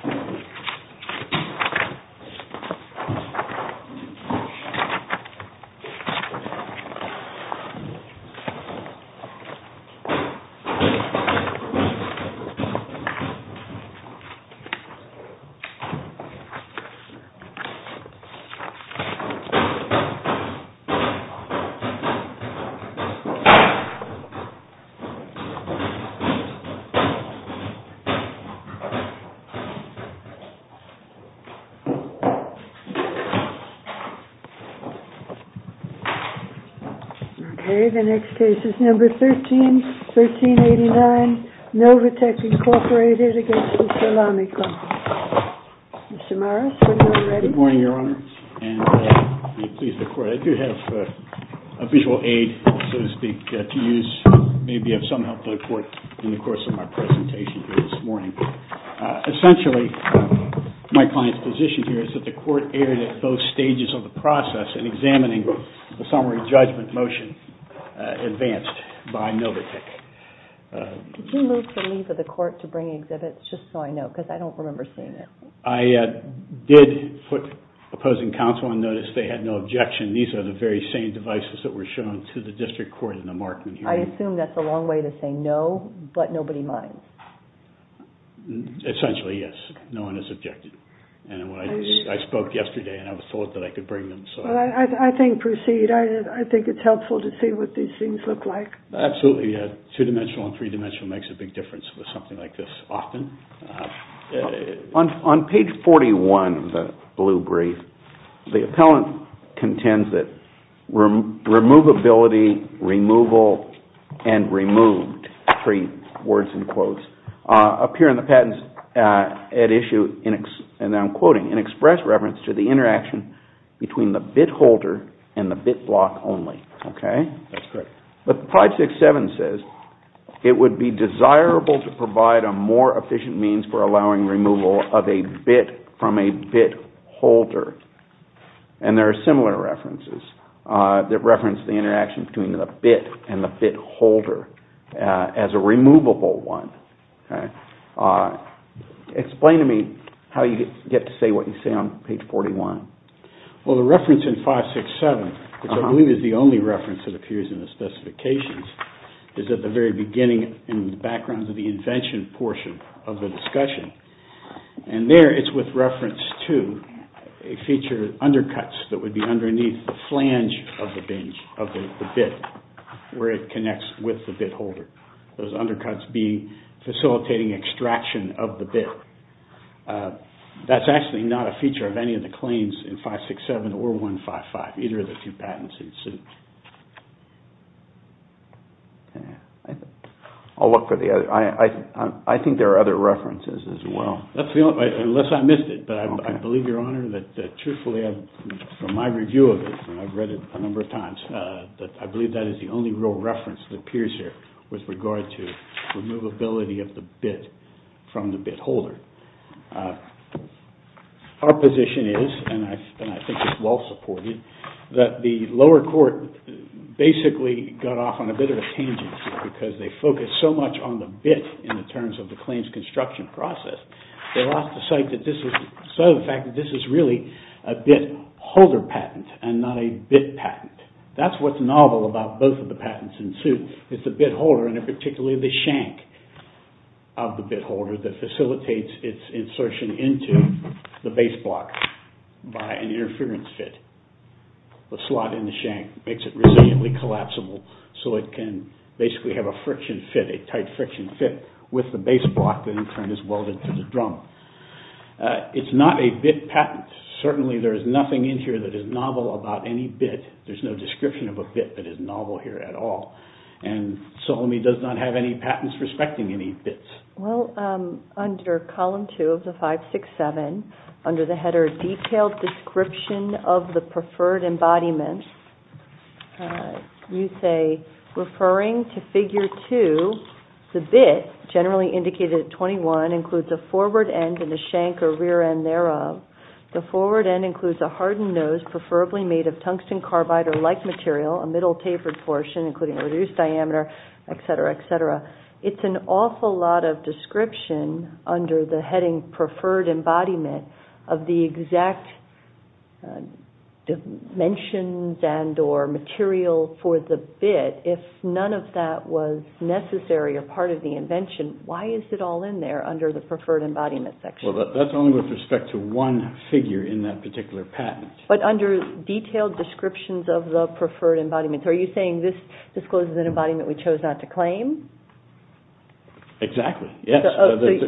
SOLLAMI COMPAN, INC. v. THE SOLLAMI COMPAN Okay, the next case is number 13, 1389, NOVATEK, INC. v. THE SOLLAMI COMPAN. Mr. Morris, when you're ready. Good morning, Your Honor, and may it please the Court, I do have a visual aid, so to speak, to use, maybe of some help to the Court in the course of my presentation here this morning. Essentially, my client's position here is that the Court erred at both stages of the process in examining the summary judgment motion advanced by NOVATEK. Could you move for leave of the Court to bring exhibits, just so I know, because I don't remember seeing it. I did put opposing counsel on notice. They had no objection. These are the very same devices that were shown to the District Court in the Markman hearing. I assume that's a long way to say no, but nobody minds. Essentially, yes. No one has objected. I spoke yesterday, and I thought that I could bring them. Well, I think proceed. I think it's helpful to see what these things look like. Absolutely, yes. Two-dimensional and three-dimensional makes a big difference with something like this often. On page 41 of the blue brief, the appellant contends that removability, removal, and removed, three words and quotes, appear in the patents at issue, and I'm quoting, in express reference to the interaction between the bit holder and the bit block only. But 567 says, it would be desirable to provide a more efficient means for allowing removal of a bit from a bit holder. And there are similar references that reference the interaction between the bit and the bit holder as a removable one. Explain to me how you get to say what you say on page 41. Well, the reference in 567, which I believe is the only reference that appears in the specifications, is at the very beginning in the background of the invention portion of the discussion. And there, it's with reference to a feature of undercuts that would be underneath the flange of the bit, where it connects with the bit holder. Those undercuts be facilitating extraction of the bit. That's actually not a feature of any of the claims in 567 or 155, either of the two patents. I'll look for the other, I think there are other references as well. Unless I missed it, but I believe, Your Honor, that truthfully, from my review of it, and I've read it a number of times, that I believe that is the only real reference that appears here with regard to removability of the bit from the bit holder. Our position is, and I think it's well supported, that the lower court basically got off on a bit of a tangency because they focused so much on the bit in the terms of the claims construction process, they lost the sight of the fact that this is really a bit holder patent and not a bit patent. That's what's novel about both of the patents in suit. It's the bit holder and particularly the shank of the bit holder that facilitates its insertion into the base block by an interference fit. The slot in the shank makes it resiliently collapsible so it can basically have a friction fit, a tight friction fit with the base block that in turn is welded to the drum. It's not a bit patent. Certainly there is nothing in here that is novel about any bit. There's no description of a bit that is novel here at all. Soleme does not have any patents respecting any bits. Well, under column 2 of the 567, under the header, Detailed Description of the Preferred Embodiment, you say, referring to figure 2, the bit, generally indicated at 21, includes a forward end and a shank or rear end thereof. The forward end includes a hardened nose preferably made of tungsten carbide or like material, a middle tapered portion including reduced diameter, etc., etc. It's an awful lot of description under the heading Preferred Embodiment of the exact dimensions and or material for the bit if none of that was necessary or part of the invention. Why is it all in there under the Preferred Embodiment section? Well, that's only with respect to one figure in that particular patent. But under Detailed Descriptions of the Preferred Embodiment, are you saying this discloses an embodiment we chose not to claim? Exactly, yes.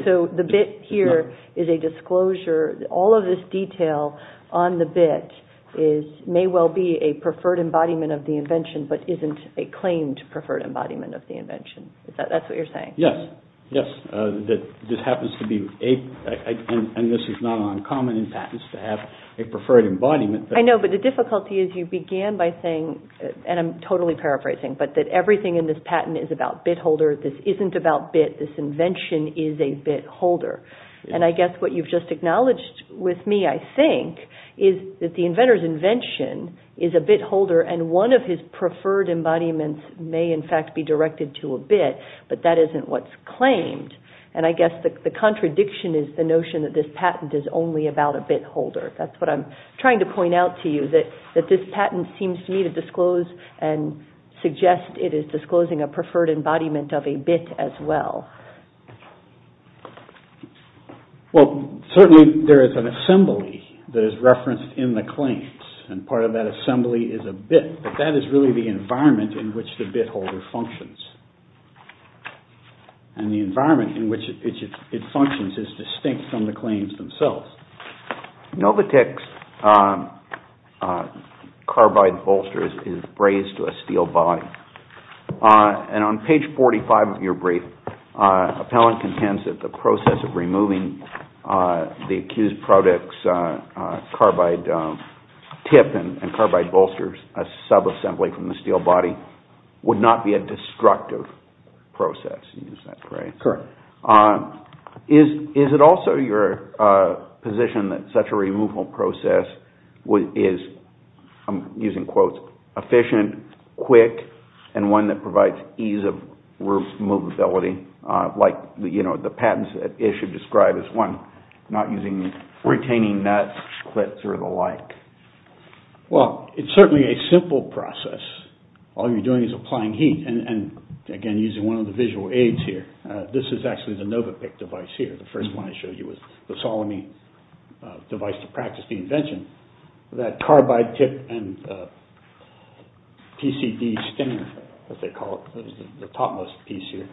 So the bit here is a disclosure. All of this detail on the bit may well be a Preferred Embodiment of the invention but isn't a claimed Preferred Embodiment of the invention. That's what you're saying? Yes, yes. This happens to be, and this is not uncommon in patents, to have a Preferred Embodiment. I know, but the difficulty is you began by saying, and I'm totally paraphrasing, but that everything in this patent is about bit holder. This isn't about bit. This invention is a bit holder. And I guess what you've just acknowledged with me, I think, is that the inventor's invention is a bit holder and one of his Preferred Embodiments may in fact be directed to a bit, but that isn't what's claimed. And I guess the contradiction is the notion that this patent is only about a bit holder. That's what I'm trying to point out to you, that this patent seems to me to disclose and suggest it is disclosing a Preferred Embodiment of a bit as well. Well, certainly there is an assembly that is referenced in the claims, and part of that assembly is a bit, but that is really the environment in which the bit holder functions. And the environment in which it functions is distinct from the claims themselves. Novotix carbide bolsters is brazed to a steel body. And on page 45 of your brief, Appellant contends that the process of removing the accused product's carbide tip and carbide bolsters, a sub-assembly from the steel body, would not be a destructive process. Correct. Is it also your position that such a removal process is, I'm using quotes, efficient, quick, and one that provides ease of removability, like the patents that Ish had described as one, not using, retaining nuts, clips, or the like? Well, it's certainly a simple process. All you're doing is applying heat. And again, using one of the visual aids here, this is actually the Novopik device here, the first one I showed you was the Solomy device to practice the invention. That carbide tip and PCD stinger, as they call it, the topmost piece here.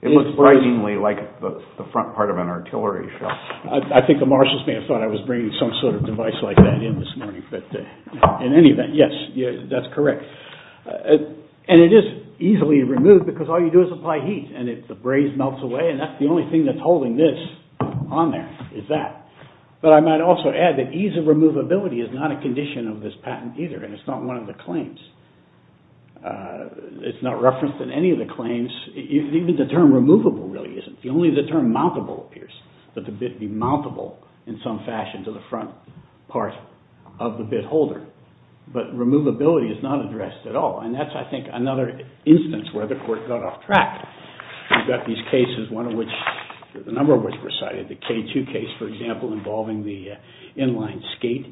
It looks frighteningly like the front part of an artillery shell. I think the marshals may have thought I was bringing some sort of device like that in this morning. But in any event, yes, that's correct. And it is easily removed because all you do is apply heat and the braze melts away and that's the only thing that's holding this on there is that. But I might also add that ease of removability is not a condition of this patent either and it's not one of the claims. It's not referenced in any of the claims. Even the term removable really isn't. Only the term mountable appears, that the bit be mountable in some fashion to the front part of the bit holder. But removability is not addressed at all and that's, I think, another instance where the court got off track. We've got these cases, one of which, a number of which were cited. The K2 case, for example, involving the inline skate.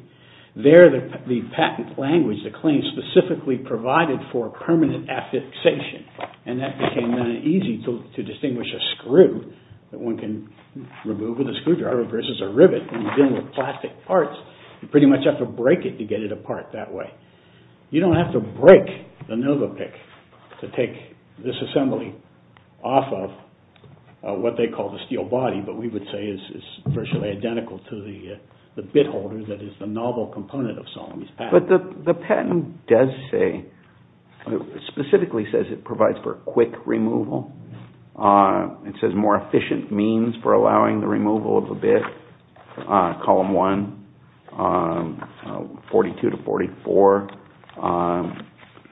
There the patent language, the claim, specifically provided for permanent affixation and that became easy to distinguish a screw that one can remove with a screwdriver versus a rivet when you're dealing with plastic parts. You pretty much have to break it to get it apart that way. You don't have to break the Novopick to take this assembly off of what they call the steel body, but we would say it's virtually identical to the bit holder that is the novel component of Salome's patent. But the patent does say, specifically says it provides for quick removal. It says more efficient means for allowing the removal of a bit, column one, 42 to 44.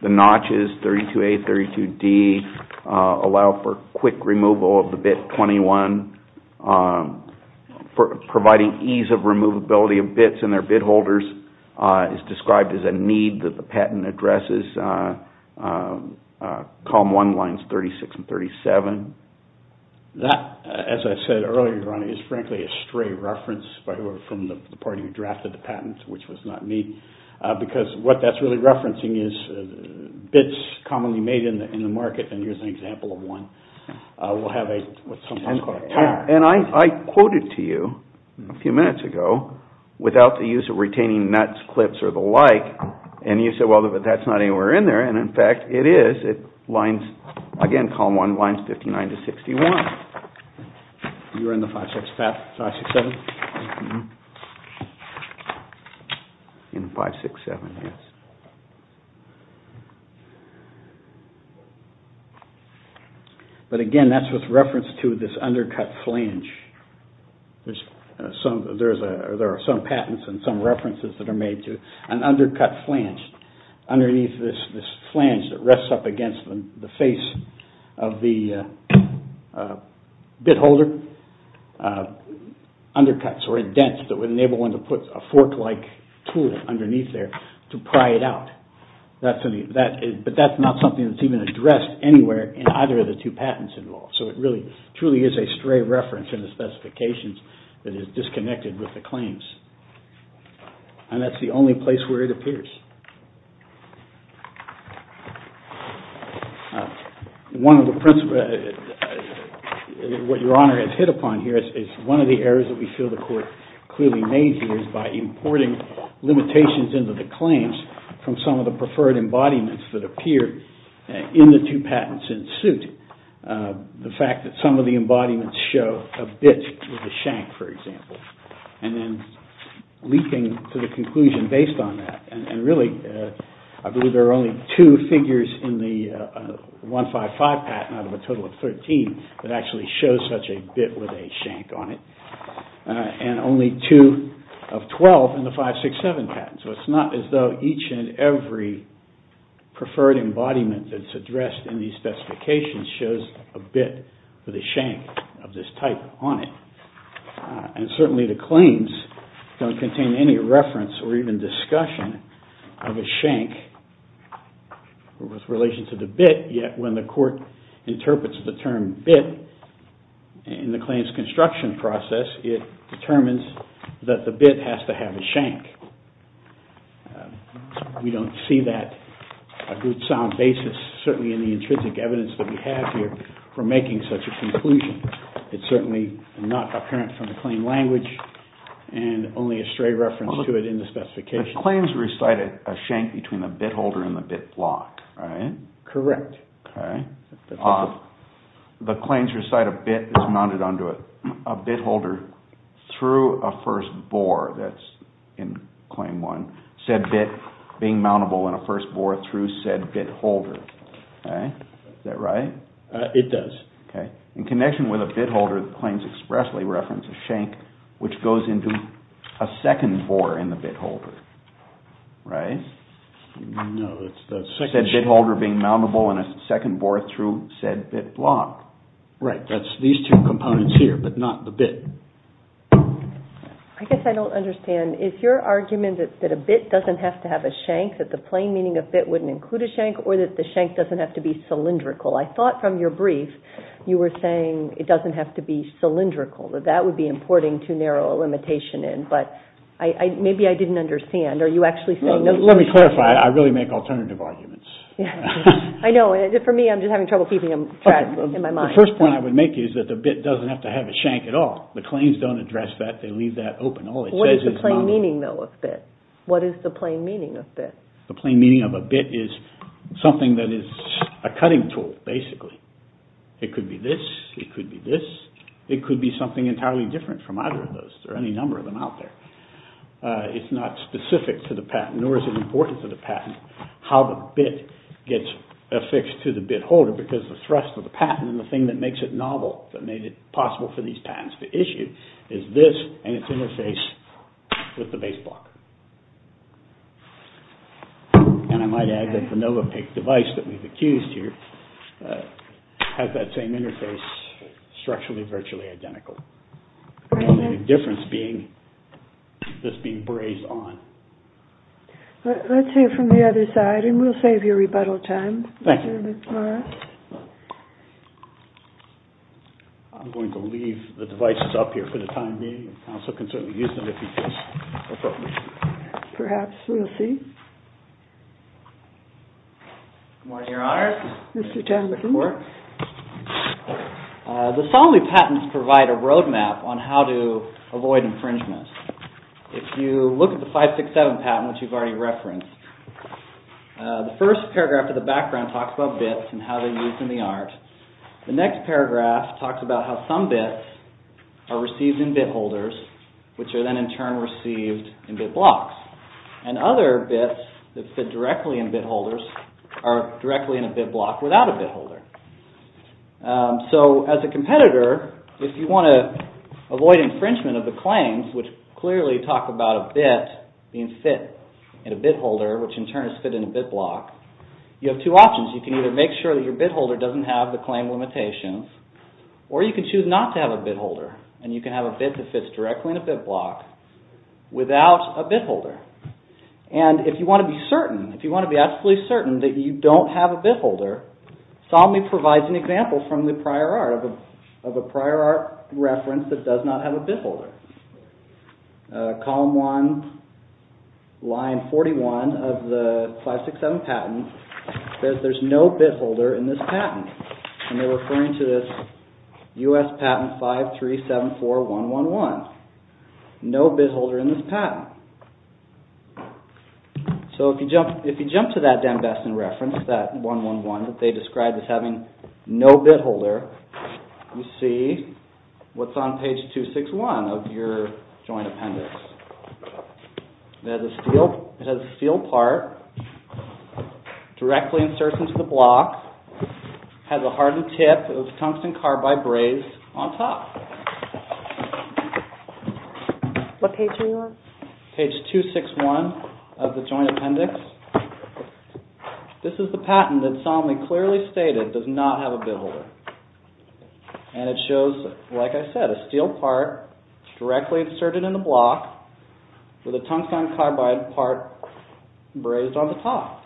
The notches, 32A, 32D, allow for quick removal of the bit 21. Providing ease of removability of bits in their bit holders is described as a need that the patent addresses. Column one lines 36 and 37. That, as I said earlier, Ron, is frankly a stray reference from the party who drafted the patent, which was not me, because what that's really referencing is bits commonly made in the market, and here's an example of one. We'll have what's sometimes called a tire. And I quoted to you a few minutes ago without the use of retaining nuts, clips, or the like, and you said, well, but that's not anywhere in there, and in fact it is. It lines, again, column one lines 59 to 61. You were in the 567? Mm-hmm. In the 567, yes. But again, that's with reference to this undercut flange. There are some patents and some references that are made to an undercut flange. Underneath this flange that rests up against the face of the bit holder, undercuts or dents that would enable one to put a fork-like tool underneath there to pry it out. But that's not something that's even addressed anywhere in either of the two patents involved, so it really truly is a stray reference in the specifications that is disconnected with the claims. And that's the only place where it appears. What Your Honor has hit upon here is one of the errors that we feel the Court clearly made here is by importing limitations into the claims from some of the preferred embodiments that appear in the two patents in suit. The fact that some of the embodiments show a bit with a shank, for example, and really trying to make the claim I believe there are only two figures in the 155 patent out of a total of 13 that actually show such a bit with a shank on it, and only two of 12 in the 567 patent. So it's not as though each and every preferred embodiment that's addressed in these specifications shows a bit with a shank of this type on it. And certainly the claims don't contain any reference or even discussion of a shank with relation to the bit, yet when the Court interprets the term bit in the claims construction process, it determines that the bit has to have a shank. We don't see that a good sound basis, certainly in the intrinsic evidence that we have here, for making such a conclusion. It's certainly not apparent from the claim language and only a stray reference to it in the specification. The claims recite a shank between the bit holder and the bit block, right? Correct. The claims recite a bit that's mounted onto a bit holder through a first bore, that's in Claim 1, said bit being mountable in a first bore through said bit holder. Is that right? It does. In connection with a bit holder, the claims expressly reference a shank which goes into a second bore in the bit holder, right? No, it's the second... Said bit holder being mountable in a second bore through said bit block. Right, that's these two components here, but not the bit. I guess I don't understand. Is your argument that a bit doesn't have to have a shank, that the plain meaning of bit wouldn't include a shank, or that the shank doesn't have to be cylindrical? I thought from your brief you were saying it doesn't have to be cylindrical, that that would be important to narrow a limitation in, but maybe I didn't understand. Are you actually saying... Let me clarify. I really make alternative arguments. I know. For me, I'm just having trouble keeping track in my mind. The first point I would make is that the bit doesn't have to have a shank at all. The claims don't address that. They leave that open. All it says is mountable. What is the plain meaning, though, of bit? What is the plain meaning of bit? The plain meaning of a bit is something that is a cutting tool, basically. It could be this. It could be this. It could be something entirely different from either of those. There are any number of them out there. It's not specific to the patent, nor is it important to the patent, how the bit gets affixed to the bit holder because the thrust of the patent and the thing that makes it novel, that made it possible for these patents to issue, is this and its interface with the base block. And I might add that the Novapik device that we've accused here has that same interface, structurally virtually identical, only the difference being this being brazed on. Let's hear from the other side, and we'll save you rebuttal time. Thank you. I'm going to leave the devices up here for the time being. The counsel can certainly use them if he feels appropriate. Perhaps. We'll see. Good morning, Your Honors. Mr. Talbot, please. The Solomy patents provide a roadmap on how to avoid infringement. If you look at the 567 patent, which you've already referenced, the first paragraph of the background talks about bits and how they're used in the art. The next paragraph talks about how some bits are received in bit holders, which are then in turn received in bit blocks. And other bits that fit directly in bit holders are directly in a bit block without a bit holder. So, as a competitor, if you want to avoid infringement of the claims, which clearly talk about a bit being fit in a bit holder, which in turn is fit in a bit block, you have two options. You can either make sure that your bit holder doesn't have the claim limitations, or you can choose not to have a bit holder, and you can have a bit that fits directly in a bit block without a bit holder. And if you want to be certain, if you want to be absolutely certain that you don't have a bit holder, Solomy provides an example from the prior art of a prior art reference that does not have a bit holder. Column 1, line 41 of the 567 patent says there's no bit holder in this patent. And they're referring to this US patent 5374111. No bit holder in this patent. So, if you jump to that Dan Beston reference, that 111 that they described as having no bit holder, you see what's on page 261 of your joint appendix. It has a steel part directly inserted into the block. It has a hardened tip. It was tungsten carbide brazed on top. What page are you on? Page 261 of the joint appendix. This is the patent that Solomy clearly stated does not have a bit holder. And it shows, like I said, a steel part directly inserted in the block with a tungsten carbide part brazed on the top.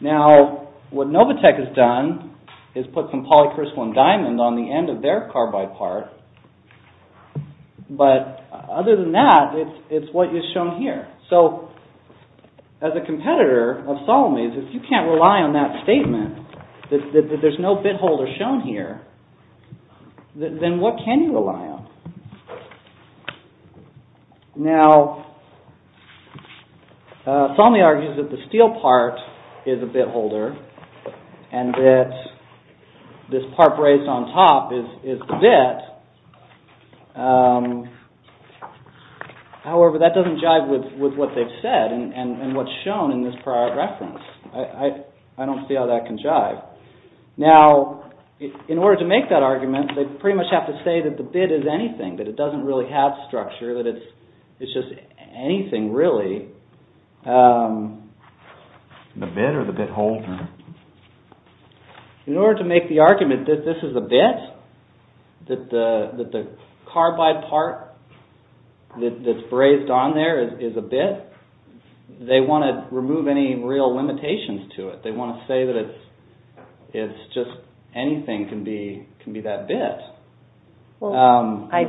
Now, what Novatec has done is put some polycrystal and diamond on the end of their carbide part but, other than that, it's what is shown here. So, as a competitor of Solomy's, if you can't rely on that statement that there's no bit holder shown here, then what can you rely on? Now, Solomy argues that the steel part is a bit holder and that this part brazed on top is the bit. However, that doesn't jive with what they've said and what's shown in this prior reference. I don't see how that can jive. Now, in order to make that argument, they pretty much have to say that the bit is anything, that it doesn't really have structure, that it's just anything, really. The bit or the bit holder? In order to make the argument that this is a bit, that the carbide part that's brazed on there is a bit, they want to remove any real limitations to it. They want to say that it's just anything can be that bit. Well, I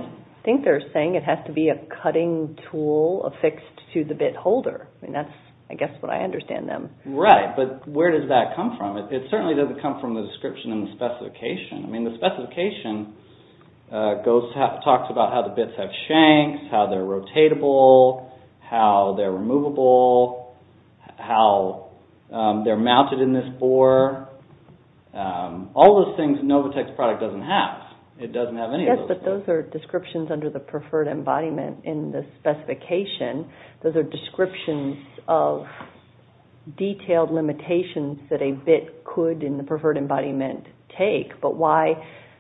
think they're saying it has to be a cutting tool affixed to the bit holder. I mean, that's, I guess, what I understand them. Right, but where does that come from? It certainly doesn't come from the description and the specification. I mean, the specification talks about how the bits have shanks, how they're rotatable, how they're removable, how they're mounted in this bore. All those things Novatec's product doesn't have. It doesn't have any of those things. Yes, but those are descriptions under the preferred embodiment in the specification. Those are descriptions of detailed limitations that a bit could, in the preferred embodiment, take. But why?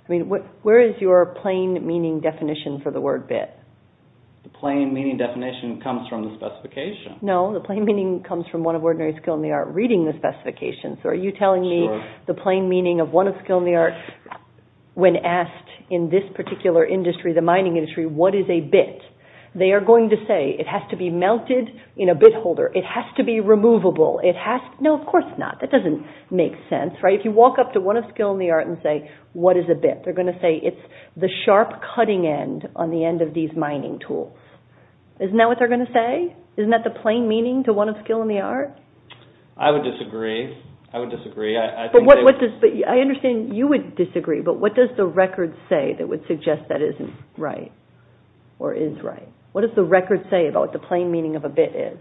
I mean, where is your plain meaning definition for the word bit? The plain meaning definition comes from the specification. No, the plain meaning comes from one of ordinary skill in the art reading the specification. So are you telling me the plain meaning of one of skill in the art when asked in this particular industry, the mining industry, what is a bit? They are going to say it has to be mounted in a bit holder. It has to be removable. No, of course not. That doesn't make sense, right? If you walk up to one of skill in the art and say, what is a bit? They're going to say it's the sharp cutting end on the end of these mining tools. Isn't that what they're going to say? Isn't that the plain meaning to one of skill in the art? I would disagree. I would disagree. I understand you would disagree, but what does the record say that would suggest that isn't right? Or is right? What does the record say about what the plain meaning of a bit is?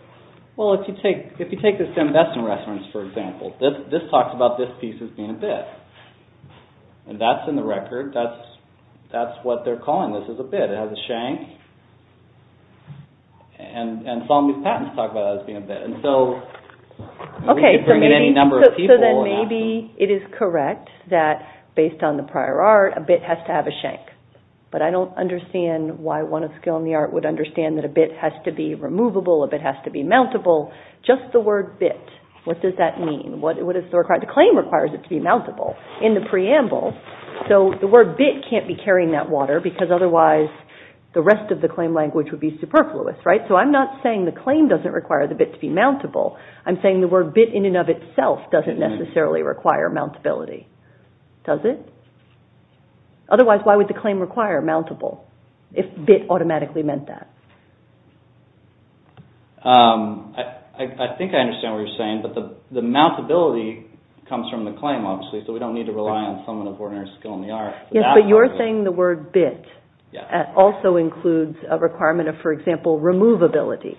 Well, if you take this to invest in restaurants, for example, this talks about this piece as being a bit. And that's in the record. That's what they're calling this, is a bit. It has a shank. And some of these patents talk about it as being a bit. And so we could bring in any number of people. So then maybe it is correct that based on the prior art, a bit has to have a shank. But I don't understand why one of skill in the art would understand that a bit has to be removable, a bit has to be mountable. Just the word bit. What does that mean? The claim requires it to be mountable in the preamble. So the word bit can't be carrying that water because otherwise the rest of the claim language would be superfluous, right? So I'm not saying the claim doesn't require the bit to be mountable. I'm saying the word bit in and of itself doesn't necessarily require mountability. Does it? Otherwise, why would the claim require mountable if bit automatically meant that? I think I understand what you're saying, but the mountability comes from the claim, obviously, so we don't need to rely on someone of ordinary skill in the art. Yes, but you're saying the word bit also includes a requirement of, for example, removability.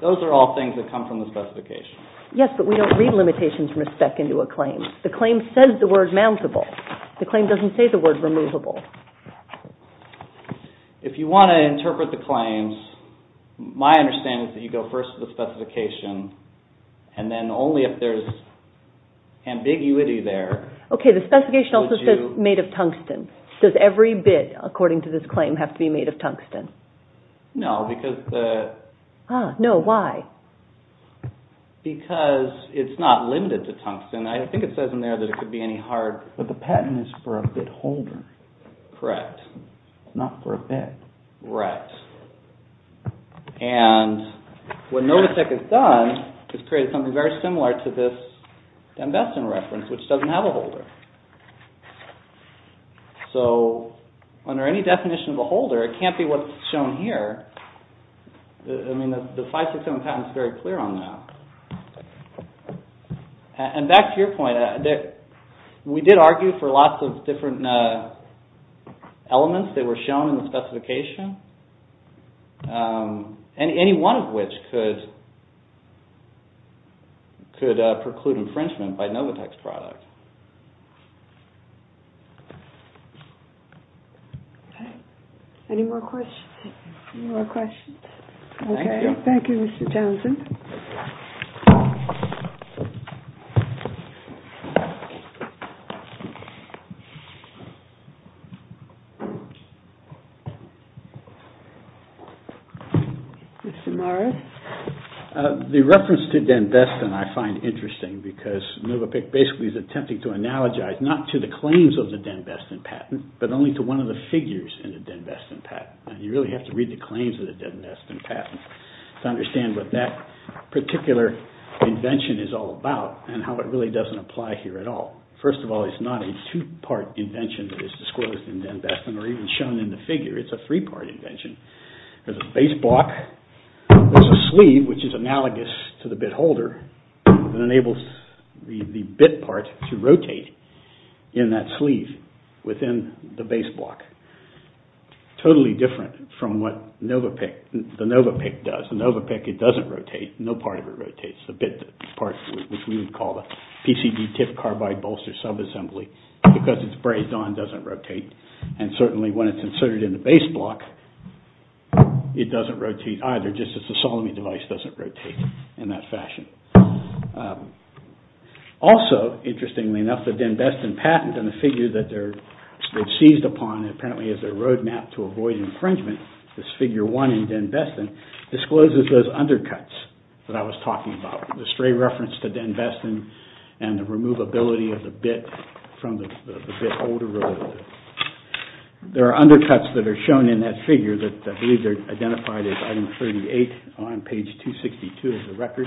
Those are all things that come from the specification. Yes, but we don't read limitations from a spec into a claim. The claim says the word mountable. The claim doesn't say the word removable. If you want to interpret the claims, my understanding is that you go first to the specification and then only if there's ambiguity there... Okay, the specification also says made of tungsten. Does every bit, according to this claim, have to be made of tungsten? No, because the... Ah, no, why? Because it's not limited to tungsten. I think it says in there that it could be any hard... But the patent is for a bit holder. Correct. Not for a bit. Right. And what Notasek has done is created something very similar to this Dan Beston reference, which doesn't have a holder. So, under any definition of a holder, it can't be what's shown here. I mean, the 567 patent is very clear on that. And back to your point, we did argue for lots of different elements that were shown in the specification, any one of which could preclude infringement by Novotec's product. Okay. Any more questions? Any more questions? Okay. Thank you, Mr. Johnson. Thank you. Mr. Morris? The reference to Dan Beston I find interesting because Novotec basically is attempting to analogize not to the claims of the Dan Beston patent, but only to one of the figures in the Dan Beston patent. And you really have to read the claims of the Dan Beston patent to understand what that particular invention is all about and how it really doesn't apply here at all. First of all, it's not a two-part invention that is disclosed in Dan Beston, or even shown in the figure. It's a three-part invention. There's a base block. There's a sleeve, which is analogous to the bit holder that enables the bit part to rotate in that sleeve within the base block. Totally different from what the Novopec does. The Novopec, it doesn't rotate. No part of it rotates. The bit part, which we would call the PCB tip carbide bolster subassembly, because it's brazed on, doesn't rotate. And certainly when it's inserted in the base block, it doesn't rotate either, just as the Solome device doesn't rotate in that fashion. Also, interestingly enough, the Dan Beston patent and the figure that they're seized upon apparently as their roadmap to avoid infringement, this figure one in Dan Beston, discloses those undercuts that I was talking about, the stray reference to Dan Beston and the removability of the bit from the bit holder. There are undercuts that are shown in that figure that I believe are identified as item 38 on page 262 of the record.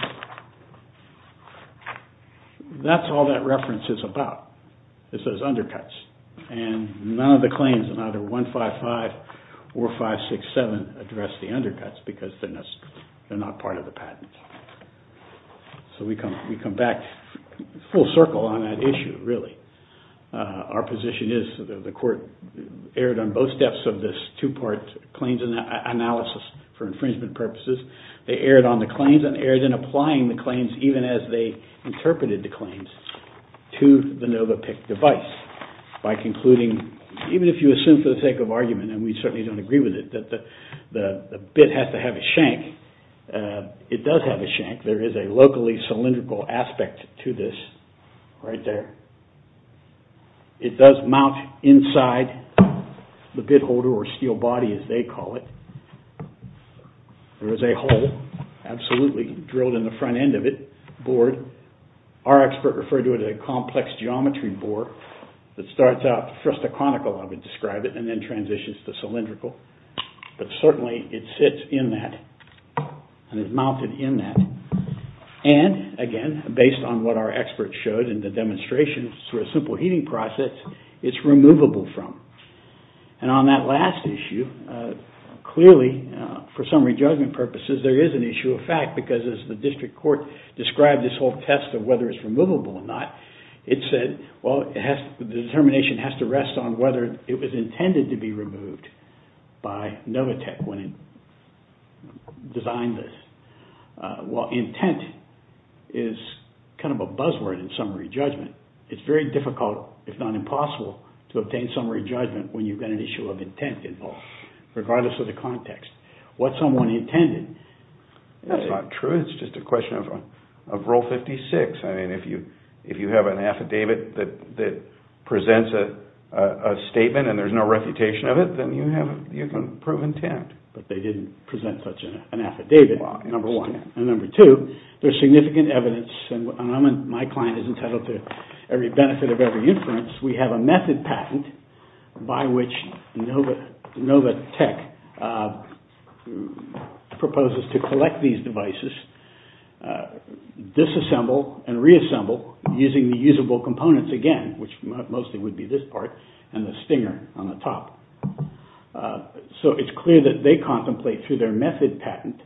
That's all that reference is about, is those undercuts. And none of the claims in either 155 or 567 address the undercuts because they're not part of the patent. So we come back full circle on that issue, really. Our position is that the court erred on both steps of this two-part claims analysis for infringement purposes. They erred on the claims and erred in applying the claims even as they interpreted the claims to the Novopec device. By concluding, even if you assume for the sake of argument, and we certainly don't agree with it, that the bit has to have a shank. It does have a shank. There is a locally cylindrical aspect to this right there. It does mount inside the bit holder or steel body, as they call it. There is a hole, absolutely drilled in the front end of it, bored. Our expert referred to it as a complex geometry bore that starts out, first a chronicle of it, describe it, and then transitions to cylindrical. But certainly it sits in that, and it's mounted in that. And, again, based on what our expert showed in the demonstration, through a simple heating process, it's removable from. And on that last issue, clearly, for summary judgment purposes, there is an issue of fact because as the district court described this whole test of whether it's removable or not, it said, well, the determination has to rest on whether it was intended to be removed by Novatec when it designed this. Well, intent is kind of a buzzword in summary judgment. It's very difficult, if not impossible, to obtain summary judgment when you've got an issue of intent involved, regardless of the context. What someone intended... Of Rule 56, I mean, if you have an affidavit that presents a statement and there's no refutation of it, then you can prove intent. But they didn't present such an affidavit, number one. And number two, there's significant evidence, and my client is entitled to every benefit of every inference, we have a method patent by which Novatec proposes to collect these devices disassemble and reassemble using the usable components again, which mostly would be this part and the stinger on the top. So it's clear that they contemplate through their method patent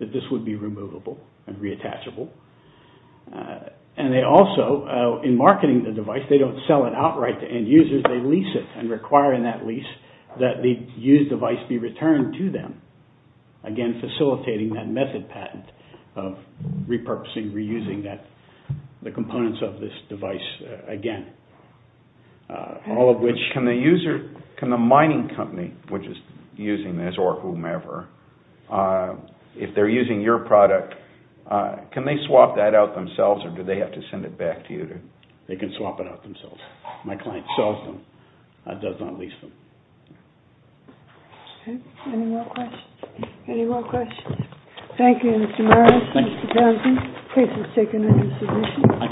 that this would be removable and reattachable. And they also, in marketing the device, they don't sell it outright to end users, they lease it and require in that lease that the used device be returned to them, again, facilitating that method patent of repurposing, reusing the components of this device again. Can the mining company which is using this, or whomever, if they're using your product, can they swap that out themselves or do they have to send it back to you? They can swap it out themselves. My client sells them, does not lease them. Any more questions? Any more questions? Thank you, Mr. Meyers, Mr. Thompson. Please, let's take another submission.